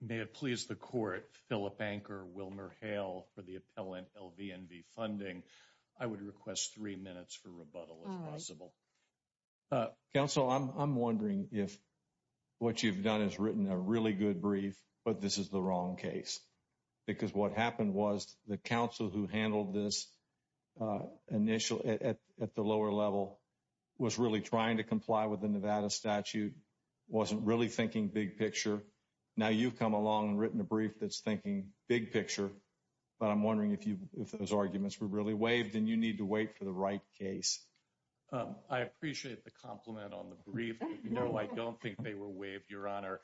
May it please the Court, Philip Anker, Wilmer Hale, for the appellant LVNV Funding. I would request three minutes for rebuttal if possible. All right. Counsel, I'm wondering if what you've done is written a really good brief, but this is the wrong case, because what happened was the counsel who handled this initial at the lower level was really trying to comply with the Nevada statute, wasn't really thinking big picture. Now you've come along and written a brief that's thinking big picture. But I'm wondering if you if those arguments were really waived and you need to wait for the right case. I appreciate the compliment on the brief. You know, I don't think they were waived, Your Honor.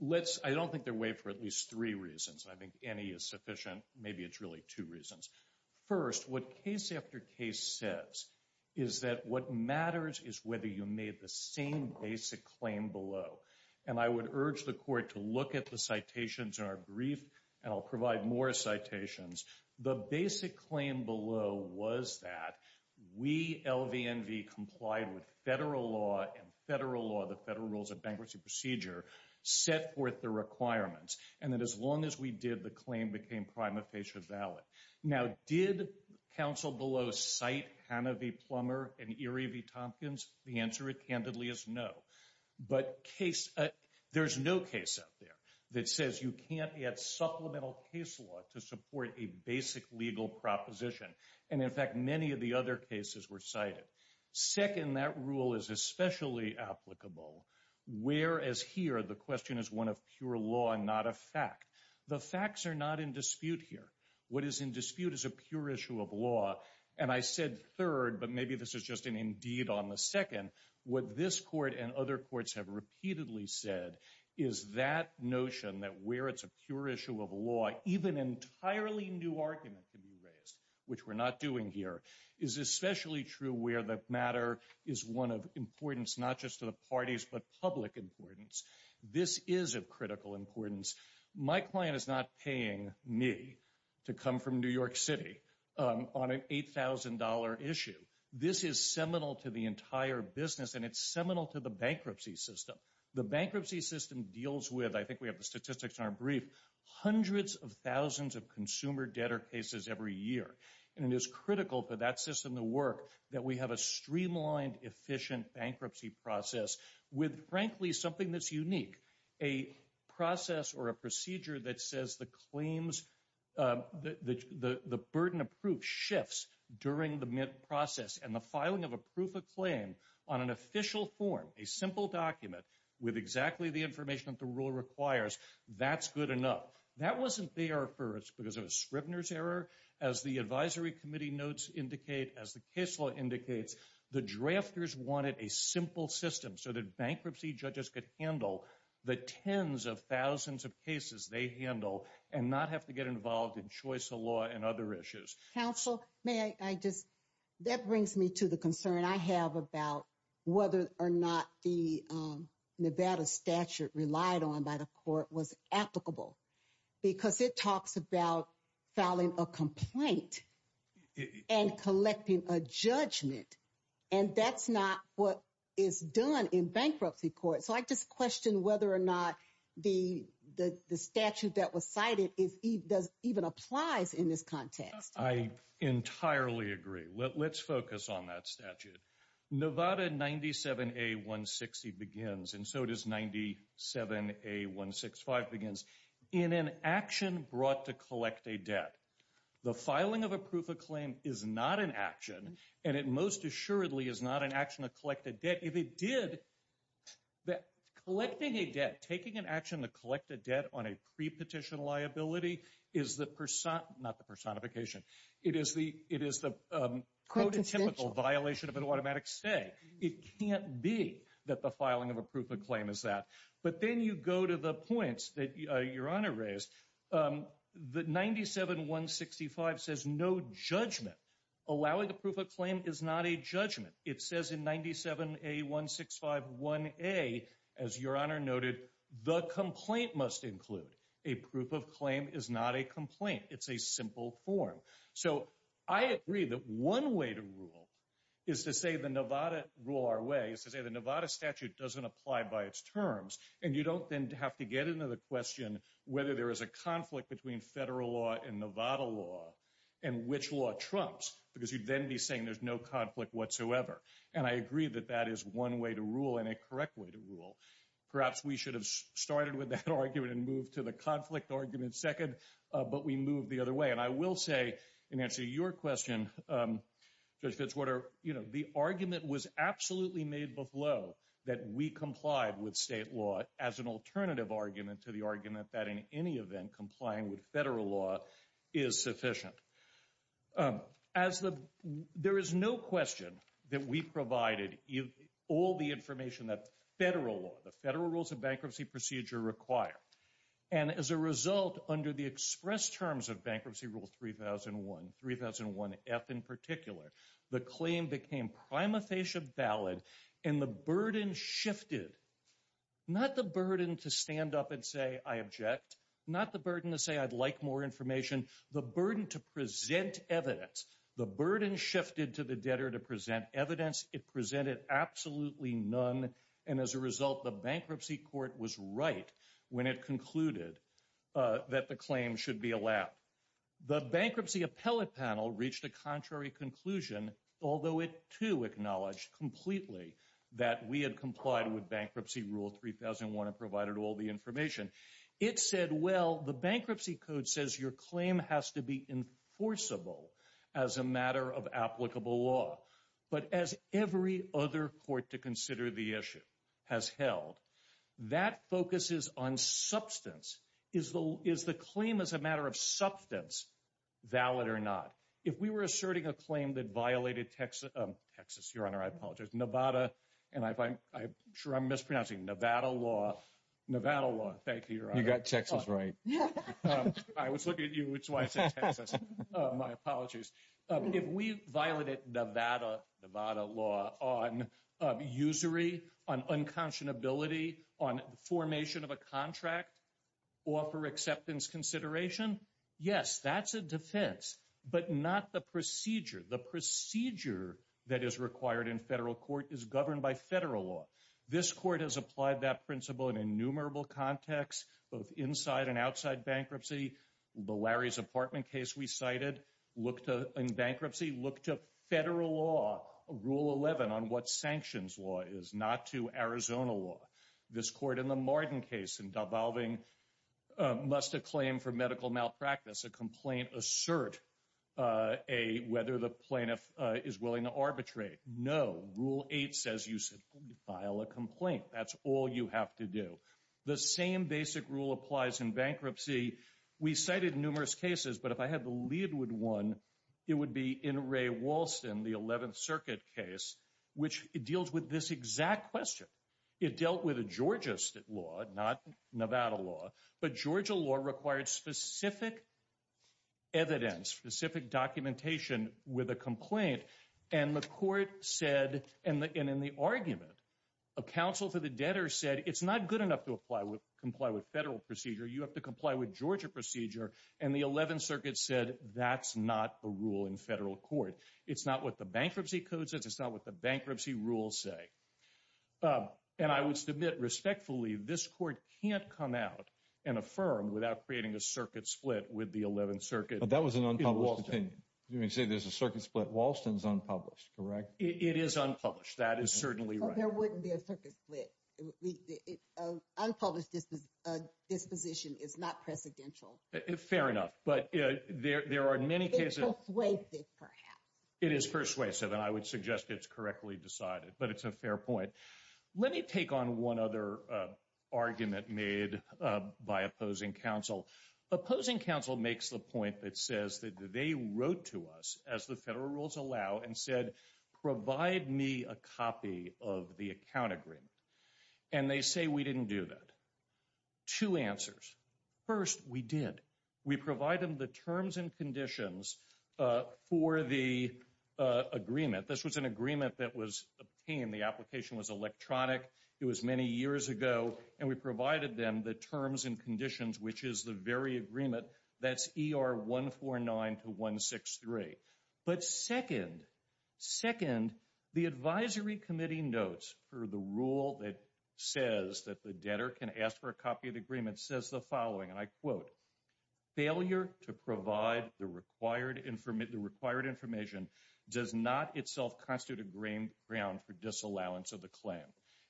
Let's, I don't think they're waived for at least three reasons. I think any is sufficient. Maybe it's really two reasons. First, what case after case says is that what matters is whether you made the same basic claim below. And I would urge the Court to look at the citations in our brief, and I'll provide more citations. The basic claim below was that we, LVNV, complied with federal law and federal law, the federal rules of bankruptcy procedure, set forth the requirements, and that as long as we did, the claim became prima facie valid. Now did counsel below cite Hanna v. Plummer and Erie v. Tompkins? The answer candidly is no. But case, there's no case out there that says you can't get supplemental case law to support a basic legal proposition. And in fact, many of the other cases were cited. Second, that rule is especially applicable, whereas here, the question is one of pure law and not a fact. The facts are not in dispute here. What is in dispute is a pure issue of law. And I said third, but maybe this is just an indeed on the second. What this Court and other courts have repeatedly said is that notion that where it's a pure issue of law, even an entirely new argument can be raised, which we're not doing here, is especially true where the matter is one of importance, not just to the parties, but public importance. This is of critical importance. My client is not paying me to come from New York City on an $8,000 issue. This is seminal to the entire business, and it's seminal to the bankruptcy system. The bankruptcy system deals with, I think we have the statistics in our brief, hundreds of thousands of consumer debtor cases every year. And it is critical for that system to work that we have a streamlined, efficient bankruptcy process with, frankly, something that's unique, a process or a procedure that says the burden of proof shifts during the process and the filing of a proof of claim on an information that the rule requires. That's good enough. That wasn't there first because of a Scribner's error. As the advisory committee notes indicate, as the case law indicates, the drafters wanted a simple system so that bankruptcy judges could handle the tens of thousands of cases they handle and not have to get involved in choice of law and other issues. Counsel, may I just, that brings me to the concern I have about whether or not the Nevada statute relied on by the court was applicable, because it talks about filing a complaint and collecting a judgment. And that's not what is done in bankruptcy court. So I just question whether or not the entirely agree. Let's focus on that statute. Nevada 97A160 begins, and so does 97A165 begins, in an action brought to collect a debt. The filing of a proof of claim is not an action, and it most assuredly is not an action to collect a debt. If it did, collecting a debt, taking an liability, is the, not the personification, it is the prototypical violation of an automatic stay. It can't be that the filing of a proof of claim is that. But then you go to the points that your honor raised. The 97165 says no judgment. Allowing the proof of claim is not a judgment. It says in 97A165 1A, as your honor noted, the complaint must include. A proof of claim is not a complaint. It's a simple form. So I agree that one way to rule is to say the Nevada, rule our way, is to say the Nevada statute doesn't apply by its terms. And you don't then have to get into the question whether there is a conflict between federal law and Nevada law, and which law trumps, because you'd then be saying there's no conflict whatsoever. And I agree that that is one way to rule and a correct way to rule. Perhaps we should have started with that argument and moved to the conflict argument second, but we moved the other way. And I will say, in answer to your question, Judge Fitzwater, you know, the argument was absolutely made before that we complied with state law as an alternative argument to the argument that in any event, complying with there is no question that we provided all the information that federal law, the federal rules of bankruptcy procedure require. And as a result, under the express terms of Bankruptcy Rule 3001, 3001F in particular, the claim became prima facie valid and the burden shifted. Not the burden to stand up and say, I object. Not the burden to say, I'd like more information. The burden to present evidence. The burden shifted to the debtor to present evidence. It presented absolutely none. And as a result, the bankruptcy court was right when it concluded that the claim should be allowed. The bankruptcy appellate panel reached a contrary conclusion, although it too acknowledged completely that we had complied with Bankruptcy Rule 3001 and provided all the information that federal law, the federal rules of bankruptcy procedure require. As every other court to consider the issue has held, that focuses on substance. Is the claim as a matter of substance valid or not? If we were asserting a claim that violated Texas, Nevada, and I'm sure I'm mispronouncing Nevada law, Nevada law. Thank you, Your Honor. You got Texas right. I was looking at you, which is why I said Texas. My apologies. If we violated Nevada law on usury, on unconscionability, on formation of a contract, or for acceptance consideration, yes, that's a defense, but not the procedure. The procedure that is required in federal court is governed by federal law. This court has applied that principle in innumerable contexts, both inside and outside bankruptcy. The Larry's apartment case we cited, in bankruptcy, looked to federal law, Rule 11 on what sanctions law is, not to Arizona law. This court in the Martin case, in devolving must a claim for medical malpractice, a complaint assert whether the plaintiff is willing to arbitrate. No, Rule 8 says you simply file a complaint. That's all you have to do. The same basic rule applies in bankruptcy. We cited numerous cases, but if I had the Leedwood one, it would be in Ray Walston, the 11th Circuit case, which deals with this exact question. It dealt with a Georgia law, not Nevada law, but Georgia law required specific evidence, specific documentation with a complaint, and the court said, and in the argument, a counsel for the debtor said, it's not good enough to comply with federal procedure. You have to comply with Georgia procedure, and the 11th Circuit said, that's not the rule in federal court. It's not what the bankruptcy code says. It's not what the bankruptcy rules say, and I would submit, respectfully, this court can't come out and affirm without creating a circuit split with the 11th Circuit. But that was an unpublished opinion. You're going to say there's a circuit split. Walston's unpublished, correct? It is unpublished. That is certainly right. There wouldn't be a circuit split. Unpublished disposition is not precedential. Fair enough, but there are many cases. It's persuasive, perhaps. It is persuasive, and I would suggest it's correctly decided, but it's a fair point. Let me take on one other argument made by opposing counsel. Opposing counsel makes the point that they wrote to us, as the federal rules allow, and said, provide me a copy of the account agreement, and they say we didn't do that. Two answers. First, we did. We provided the terms and conditions for the agreement. This was an agreement that was obtained. The application was electronic. It was many years ago, and we provided them the terms and conditions, which is the very agreement that's ER 149 to 163. But second, the advisory committee notes for the rule that says that the debtor can ask for a copy of the agreement says the following, and I quote, failure to provide the required information does not itself constitute a ground for disallowance of the claim.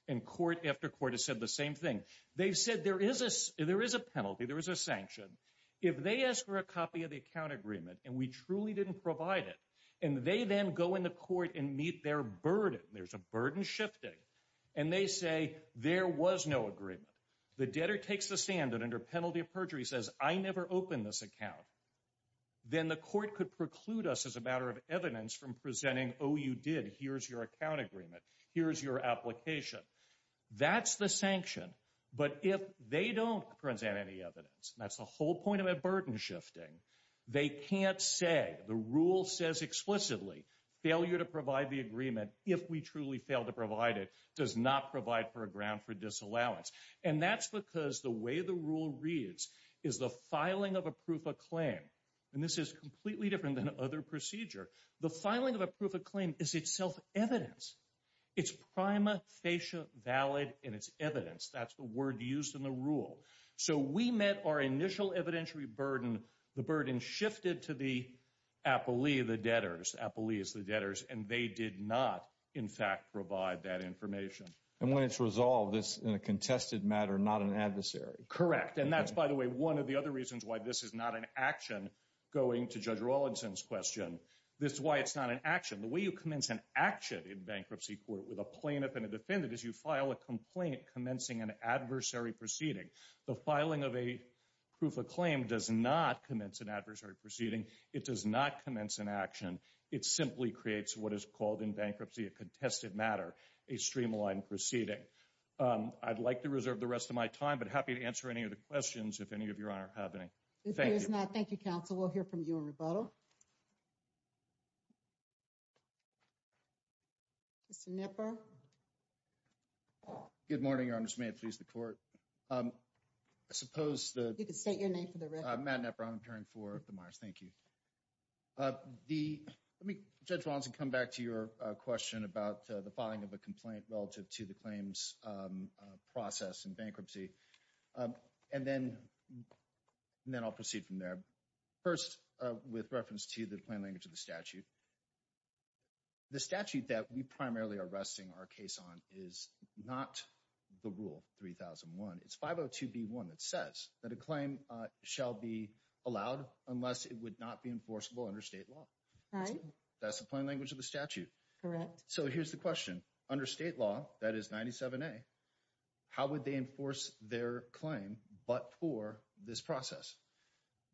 And court after court has said the same thing. They've said there is a penalty. There is a penalty. If they ask for a copy of the account agreement, and we truly didn't provide it, and they then go in the court and meet their burden, there's a burden shifting, and they say there was no agreement. The debtor takes the stand and under penalty of perjury says I never opened this account. Then the court could preclude us as a matter of evidence from presenting, oh, you did. Here's your account agreement. Here's your application. That's the sanction. But if they don't present any evidence, that's the whole point of a burden shifting. They can't say the rule says explicitly failure to provide the agreement if we truly fail to provide it does not provide for a ground for disallowance. And that's because the way the rule reads is the filing of a proof of claim. And this is completely different than other procedure. The filing of a proof of claim is itself evidence. It's prima facie valid in its evidence. That's the word used in the rule. So we met our initial evidentiary burden. The burden shifted to the appellee, the debtors, appellees, the debtors, and they did not in fact provide that information. And when it's resolved, it's in a contested matter, not an adversary. Correct. And that's, by the way, one of the other reasons why this is not an action going to Judge Rawlinson's question. This is why it's not an action. The way you commence an action in bankruptcy court with a plaintiff and a defendant is you file a complaint commencing an adversary proceeding. The filing of a proof of claim does not commence an adversary proceeding. It does not commence an action. It simply creates what is called in bankruptcy a contested matter, a streamlined proceeding. I'd like to reserve the rest of my time, but happy to answer any of the questions if any of your honor have any. If there is not, Good morning, your honor. May it please the court. I suppose the... You can state your name for the record. Matt Knepper. I'm appearing for the Myers. Thank you. Let me, Judge Rawlinson, come back to your question about the filing of a complaint relative to the claims process in bankruptcy. And then I'll proceed from there. First, with reference to the plain language of the statute. The statute that we primarily are resting our case on is not the rule 3001. It's 502B1 that says that a claim shall be allowed unless it would not be enforceable under state law. That's the plain language of the statute. Correct. So here's the question. Under state law, that is 97A, how would they enforce their claim but for this process?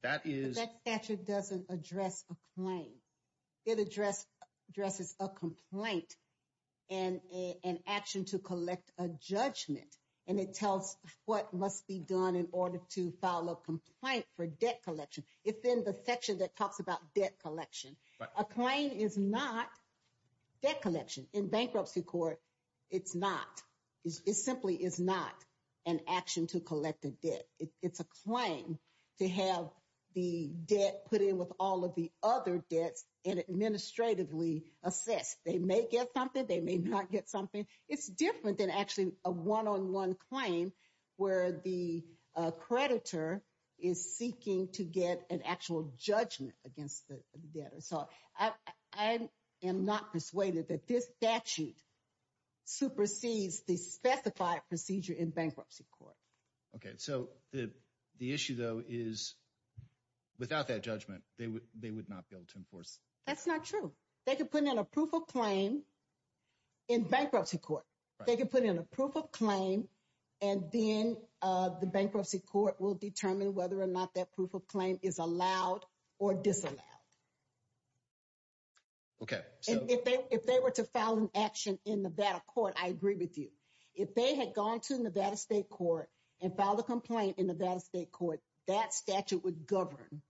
That is... But that statute doesn't address a claim. It addresses a complaint and an action to collect a judgment. And it tells what must be done in order to file a complaint for debt collection. If in the section that talks about debt collection, a claim is not debt collection. In bankruptcy court, it's not. It simply is not an action to collect a debt. It's a claim to have the debt put in with other debts and administratively assess. They may get something, they may not get something. It's different than actually a one-on-one claim where the creditor is seeking to get an actual judgment against the debtor. So I am not persuaded that this statute supersedes the specified procedure in bankruptcy court. Okay. So the issue though is without that judgment, they would not be able to enforce. That's not true. They could put in a proof of claim in bankruptcy court. They could put in a proof of claim and then the bankruptcy court will determine whether or not that proof of claim is allowed or disallowed. Okay. If they were to file an action in Nevada court, I agree with you. If they had gone to govern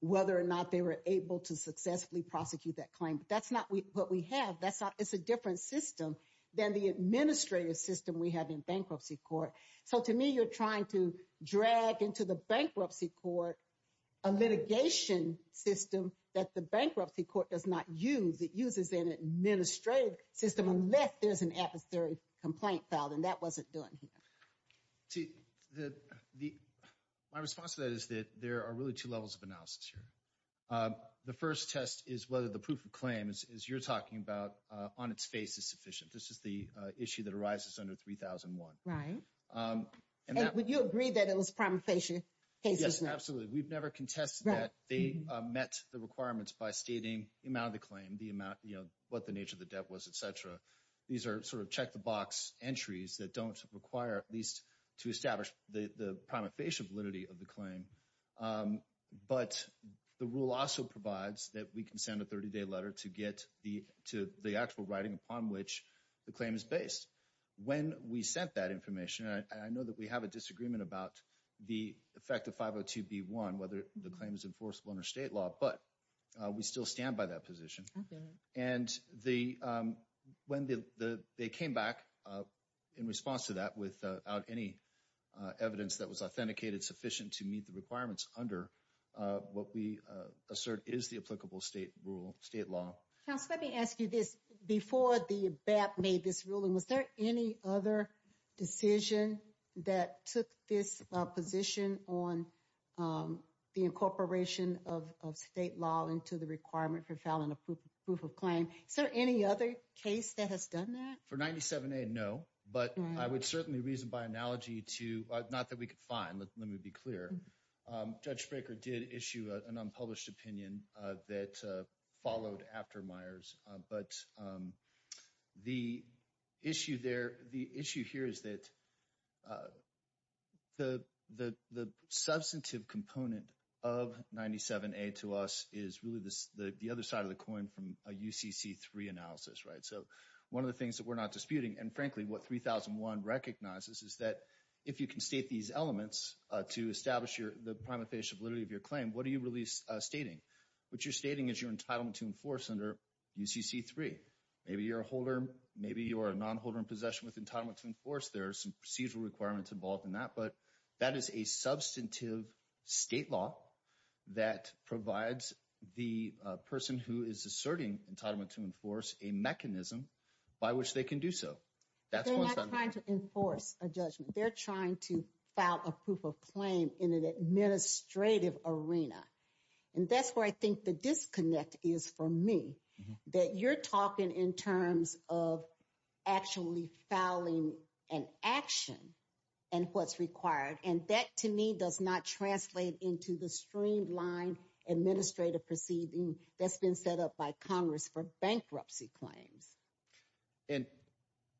whether or not they were able to successfully prosecute that claim, but that's not what we have. It's a different system than the administrative system we have in bankruptcy court. So to me, you're trying to drag into the bankruptcy court, a litigation system that the bankruptcy court does not use. It uses an administrative system unless there's an adversary complaint filed and that wasn't done here. See, my response to that is that there are really two levels of analysis here. The first test is whether the proof of claim is, as you're talking about, on its face is sufficient. This is the issue that arises under 3001. Right. And would you agree that it was prima facie? Yes, absolutely. We've never contested that. They met the requirements by stating the amount of the claim, the amount, you know, what the nature of the debt was, et cetera. These are sort of entries that don't require at least to establish the prima facie validity of the claim. But the rule also provides that we can send a 30-day letter to get the actual writing upon which the claim is based. When we sent that information, I know that we have a disagreement about the effect of 502B1, whether the claim is enforceable under state law, but we still stand by that position. And when they came back in response to that without any evidence that was authenticated sufficient to meet the requirements under what we assert is the applicable state rule, state law. Counsel, let me ask you this. Before the BAP made this ruling, was there any other decision that took this position on the incorporation of state law into the requirement for filing a proof of claim? Is there any other case that has done that? For 97A, no. But I would certainly reason by analogy to, not that we could find, let me be clear. Judge Spraker did issue an unpublished opinion that followed after Myers. But the issue here is that the substantive component of 97A to us is really the other side of the coin from a UCC3 analysis, right? So one of the things that we're not disputing, and frankly, what 3001 recognizes is that if you can state these elements to establish the prima facie validity of your claim, what are you really stating? What you're stating is your UCC3. Maybe you're a holder, maybe you're a non-holder in possession with entitlement to enforce. There are some procedural requirements involved in that. But that is a substantive state law that provides the person who is asserting entitlement to enforce a mechanism by which they can do so. That's one side of it. They're not trying to enforce a judgment. They're trying to file a proof of claim in an is for me, that you're talking in terms of actually filing an action and what's required. And that to me does not translate into the streamlined administrative proceeding that's been set up by Congress for bankruptcy claims. And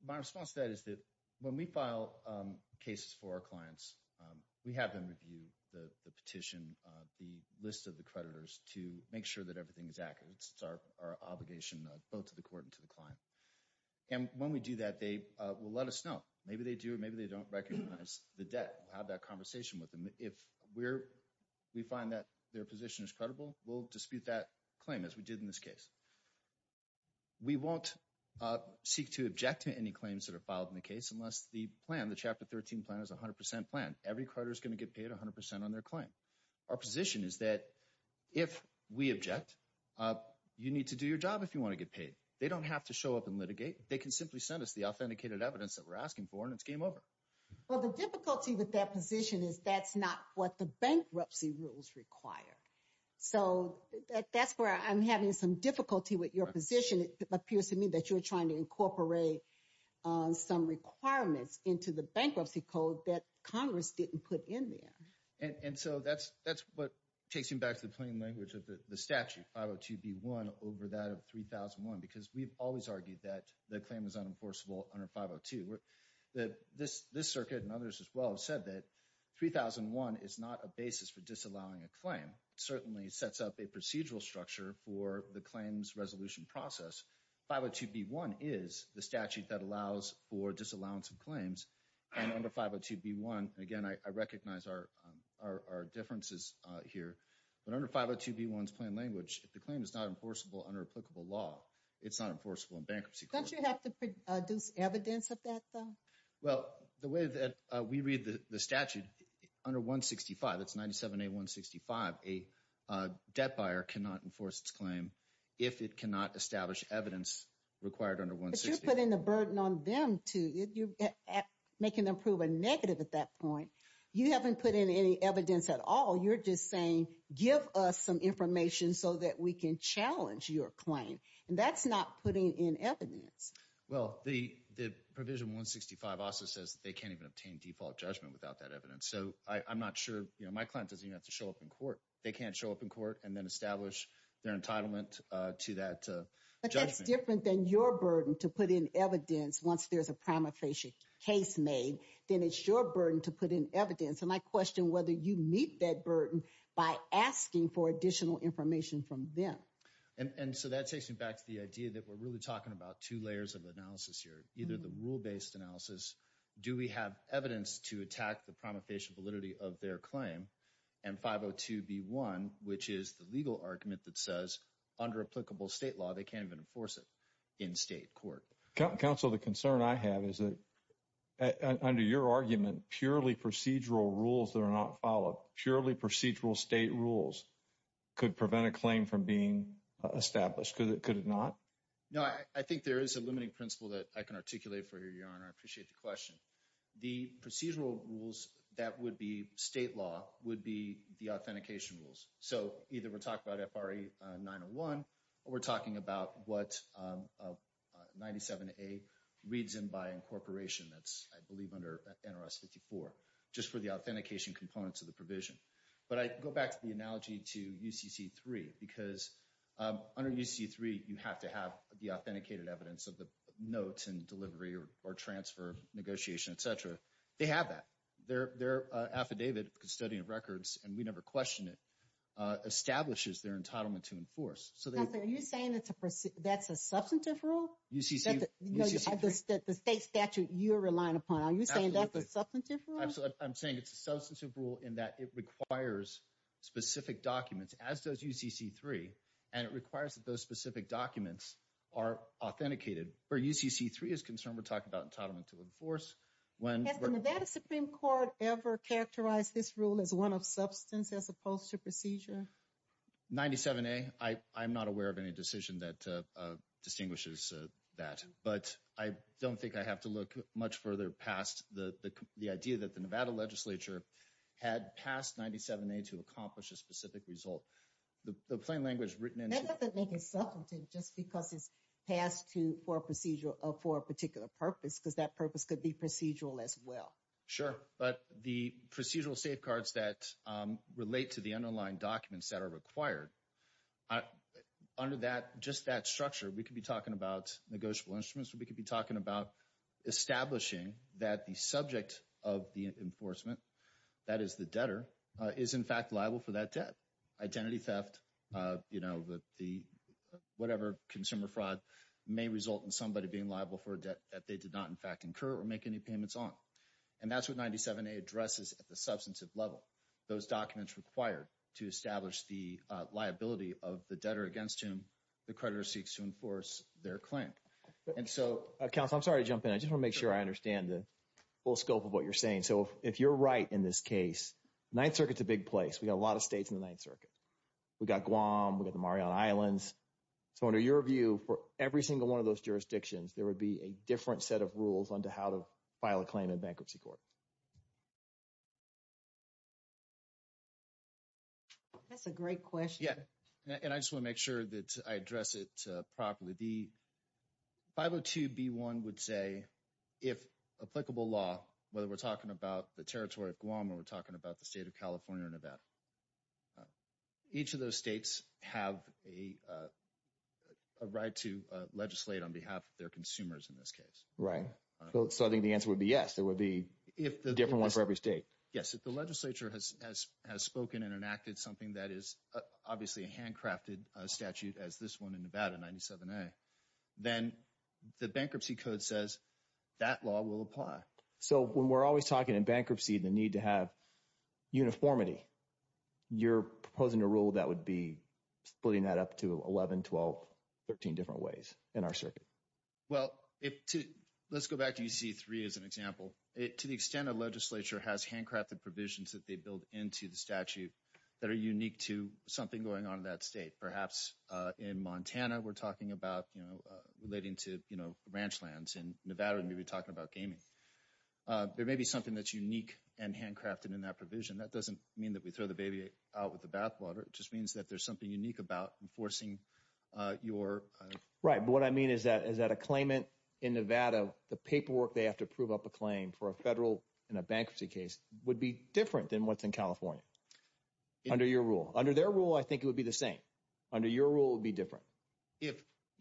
my response to that is that when we file cases for our clients, we have them review the petition, the list of the creditors to make sure that everything is accurate. It's our obligation, both to the court and to the client. And when we do that, they will let us know. Maybe they do, maybe they don't recognize the debt. We'll have that conversation with them. If we find that their position is credible, we'll dispute that claim as we did in this case. We won't seek to object to any claims that are filed in the case unless the plan, the Chapter 13 plan is 100% plan. Every creditor is going to get paid 100% on their claim. Our position is that if we object, you need to do your job if you want to get paid. They don't have to show up and litigate. They can simply send us the authenticated evidence that we're asking for and it's game over. Well, the difficulty with that position is that's not what the bankruptcy rules require. So that's where I'm having some difficulty with your position. It appears to me that you're trying to incorporate some requirements into the bankruptcy code that Congress didn't put in there. And so that's what takes me back to the plain language of the statute, 502B1 over that of 3001, because we've always argued that the claim is unenforceable under 502. This circuit and others as well have said that 3001 is not a basis for disallowing a claim. It certainly sets up a procedural structure for the claims resolution process. 502B1 is the statute that allows for our differences here. But under 502B1's plain language, if the claim is not enforceable under applicable law, it's not enforceable in bankruptcy court. Don't you have to produce evidence of that though? Well, the way that we read the statute, under 165, that's 97A165, a debt buyer cannot enforce its claim if it cannot establish evidence required under 165. But you're putting the burden on them to, you're making them prove a negative at that point. You haven't put in any evidence at all. You're just saying, give us some information so that we can challenge your claim. And that's not putting in evidence. Well, the provision 165 also says that they can't even obtain default judgment without that evidence. So I'm not sure, my client doesn't even have to show up in court. They can't show up in court and then establish their entitlement to that judgment. But that's your burden to put in evidence once there's a prima facie case made, then it's your burden to put in evidence. And I question whether you meet that burden by asking for additional information from them. And so that takes me back to the idea that we're really talking about two layers of analysis here. Either the rule-based analysis, do we have evidence to attack the prima facie validity of their claim? And 502B1, which is the legal argument that says under applicable state law, they can't even enforce it in state court. Counsel, the concern I have is that under your argument, purely procedural rules that are not followed, purely procedural state rules could prevent a claim from being established. Could it not? No, I think there is a limiting principle that I can articulate for you, Your Honor. I appreciate the question. The procedural rules that would be state law would be the authentication rules. So either we're talking about FRA 901 or we're talking about what 97A reads in by incorporation that's, I believe, under NRS 54, just for the authentication components of the provision. But I go back to the analogy to UCC3 because under UCC3, you have to have the authenticated evidence of the notes and delivery or transfer negotiation, et cetera. They have that. Their affidavit, Custodian of Records, and we never question it, establishes their entitlement to enforce. Are you saying that's a substantive rule? The state statute you're relying upon, are you saying that's a substantive rule? I'm saying it's a substantive rule in that it requires specific documents, as does UCC3, and it requires that those specific documents are authenticated. Where UCC3 is concerned, we're talking about entitlement to enforce. Has the Nevada Supreme Court ever characterized this rule as one of substance as opposed to procedure? 97A, I'm not aware of any decision that distinguishes that, but I don't think I have to look much further past the idea that the Nevada Legislature had passed 97A to accomplish a specific result. The plain language written into it makes it substantive just because it's passed for a particular purpose because that purpose could be procedural as well. Sure, but the procedural safeguards that relate to the underlying documents that are required, under just that structure, we could be talking about negotiable instruments, we could be talking about establishing that the subject of the enforcement, that is the debtor, is in fact liable for that debt. Identity theft, whatever consumer fraud, may result in somebody being liable for a debt that they did not in fact incur or make any payments on. And that's what 97A addresses at the substantive level. Those documents required to establish the liability of the debtor against whom the creditor seeks to enforce their claim. Counsel, I'm sorry to jump in. I just want to make sure I understand the scope of what you're saying. So, if you're right in this case, the Ninth Circuit's a big place. We got a lot of states in the Ninth Circuit. We got Guam, we got the Mariana Islands. So, under your view, for every single one of those jurisdictions, there would be a different set of rules on how to file a claim in bankruptcy court. That's a great question. Yeah, and I just want to make sure that I address it properly. The 502B1 would say, if applicable law, whether we're talking about the territory of Guam or we're talking about the state of California or Nevada, each of those states have a right to legislate on behalf of their consumers in this case. Right, so I think the answer would be yes. There would be a different one for every state. Yes, if the legislature has spoken and enacted something that is obviously a handcrafted provision that they build into the statute that are unique to something going on in that state, perhaps in Montana, we're talking about, you know, relating to, you know, ranch lands. In Nevada, we'd be talking about gaming. There may be something that's unique and handcrafted in that provision. That doesn't mean that we throw the baby out with the bathwater. It just means that there's something unique about enforcing your... Right, but what I mean is that a claimant in Nevada, the paperwork they have to prove up a claim for a federal bankruptcy case would be different than what's in California, under your rule. Under their rule, I think it would be the same. Under your rule, it would be different.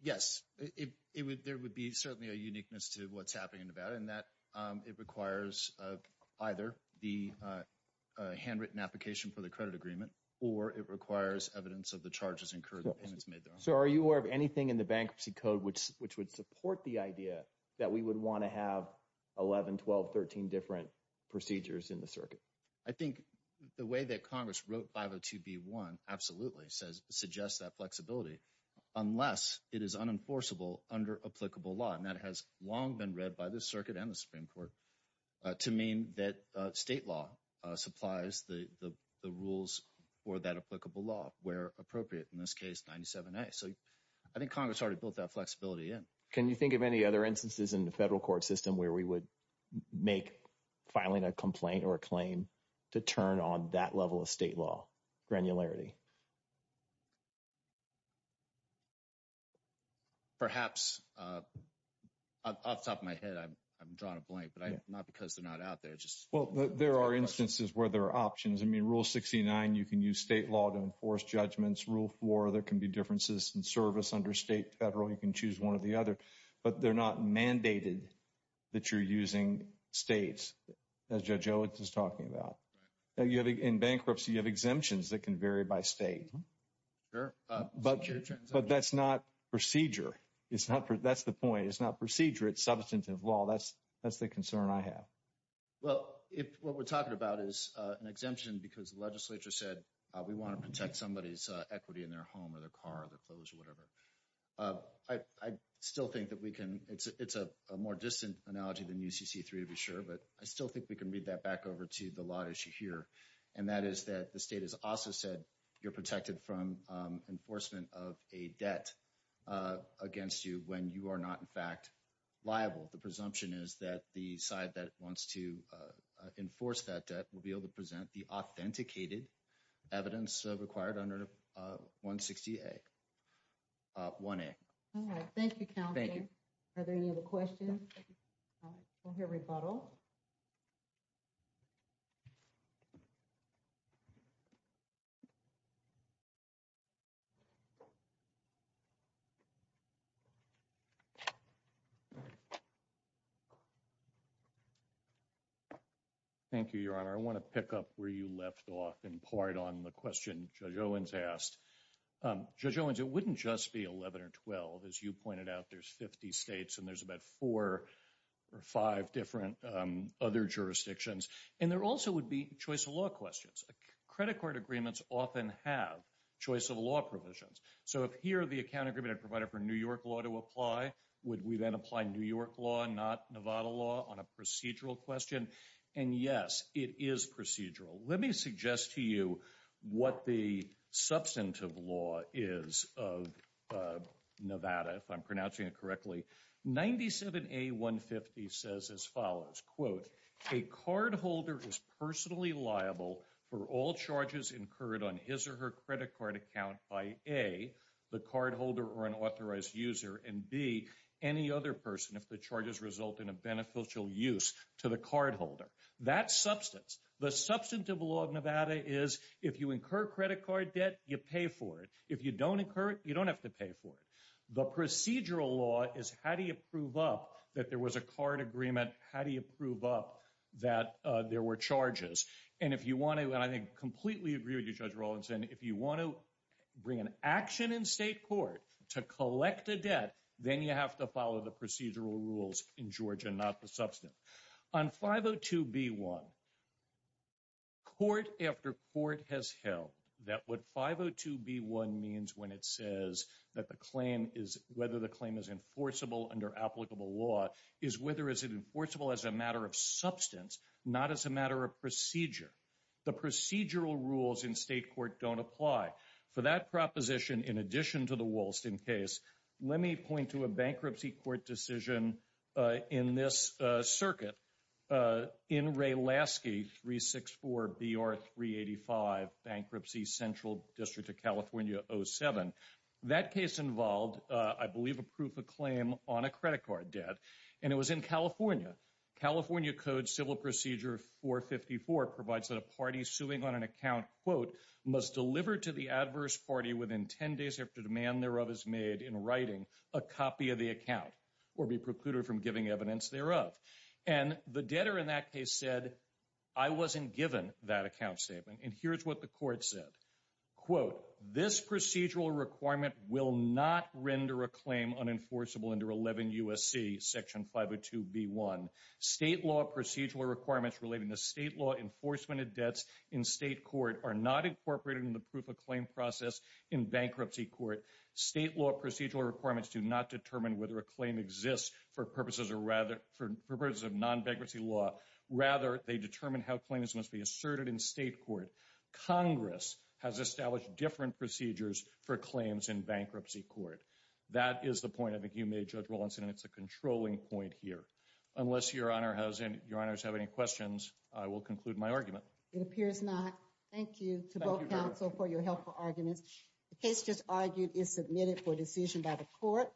Yes, there would be certainly a uniqueness to what's happening in Nevada in that it requires either the handwritten application for the credit agreement or it requires evidence of the charges incurred. So are you aware of anything in the bankruptcy code which would support the idea that we would want to have 11, 12, 13 different procedures in I think the way that Congress wrote 502B1 absolutely suggests that flexibility unless it is unenforceable under applicable law. And that has long been read by the circuit and the Supreme Court to mean that state law supplies the rules for that applicable law where appropriate, in this case 97A. So I think Congress already built that flexibility in. Can you think of any other instances in the federal court system where we would make filing a complaint or a claim to turn on that level of state law granularity? Perhaps, off the top of my head, I've drawn a blank, but not because they're not out there. There are instances where there are options. I mean, Rule 69, you can use state law to enforce judgments. Rule 4, there can be differences in service under state, federal. You can choose one or the other, but they're not mandated that you're using states, as Judge Owens is talking about. In bankruptcy, you have exemptions that can vary by state. Sure. But that's not procedure. That's the point. It's not procedure. It's substantive law. That's the concern I have. Well, what we're talking about is an exemption because the legislature said we want to protect somebody's equity in their home or their car or their clothes or whatever. I still think that we can. It's a more distant analogy than UCC-3, to be sure, but I still think we can read that back over to the law issue here, and that is that the state has also said you're protected from enforcement of a debt against you when you are not, in fact, liable. The presumption is that the side that wants to enforce that debt will be able to present the authenticated evidence required under 160A. All right. Thank you, Counselor. Thank you. Are there any other questions? All right. We'll hear rebuttal. Thank you, Your Honor. I want to pick up where you left off in part on the question Judge Owens asked. Judge Owens, it wouldn't just be 11 or 12. As you pointed out, there's 50 states, and there's about four or five different other jurisdictions. And there also would be choice of law questions. Credit card agreements often have choice of law provisions. So if here the account agreement had provided for New York law to apply, would we then apply New York law, not Nevada law, on a procedural question? And yes, it is procedural. Let me suggest to you what the substantive law is of Nevada, if I'm pronouncing it correctly. 97A150 says as follows, quote, a cardholder is personally liable for all charges incurred on his or her credit card account by A, the cardholder or an authorized user, and B, any other person if the charges result in a beneficial use to the cardholder. That's substance. The substantive law of Nevada is if you incur credit card debt, you pay for it. If you don't incur it, you don't have to pay for it. The procedural law is how do you prove up that there was a card agreement? How do you prove up that there were charges? And if you want to, and I completely agree with you, Judge Rawlinson, if you want to bring an action in state court to collect a debt, then you have to follow the procedural rules in Georgia, not the substantive. On 502B1, court after court has held that what 502B1 means when it says that the claim is, whether the claim is enforceable under applicable law is whether it's enforceable as a matter of substance, not as a matter of procedure. The procedural rules in state court don't apply. For that proposition, in addition to the Wollaston case, let me point to a bankruptcy court decision in this circuit in Ray Lasky 364BR385 Bankruptcy Central District of California 07. That case involved, I believe, a proof of claim on a credit card debt, and it was in California. California Code Civil Procedure 454 provides that a party suing on an account, quote, must deliver to the adverse party within 10 days after the demand thereof is made in writing a copy of the account or be precluded from giving evidence thereof. And the debtor in that case said, I wasn't given that account statement. And here's what the court said. Quote, this procedural requirement will not render a claim unenforceable under 11 USC section 502B1. State law procedural requirements relating to state law enforcement of debts in state court are not incorporated in the proof of claim process in bankruptcy court. State law procedural requirements do not determine whether a claim exists for purposes of non-bankruptcy law. Rather, they determine how claims must be asserted in state court. Congress has established different procedures for claims in bankruptcy court. That is the point I think you made, Judge Wollaston, and it's a controlling point here. Unless your honors have any questions, I will conclude my argument. It appears not. Thank you to both submitted for decision by the court.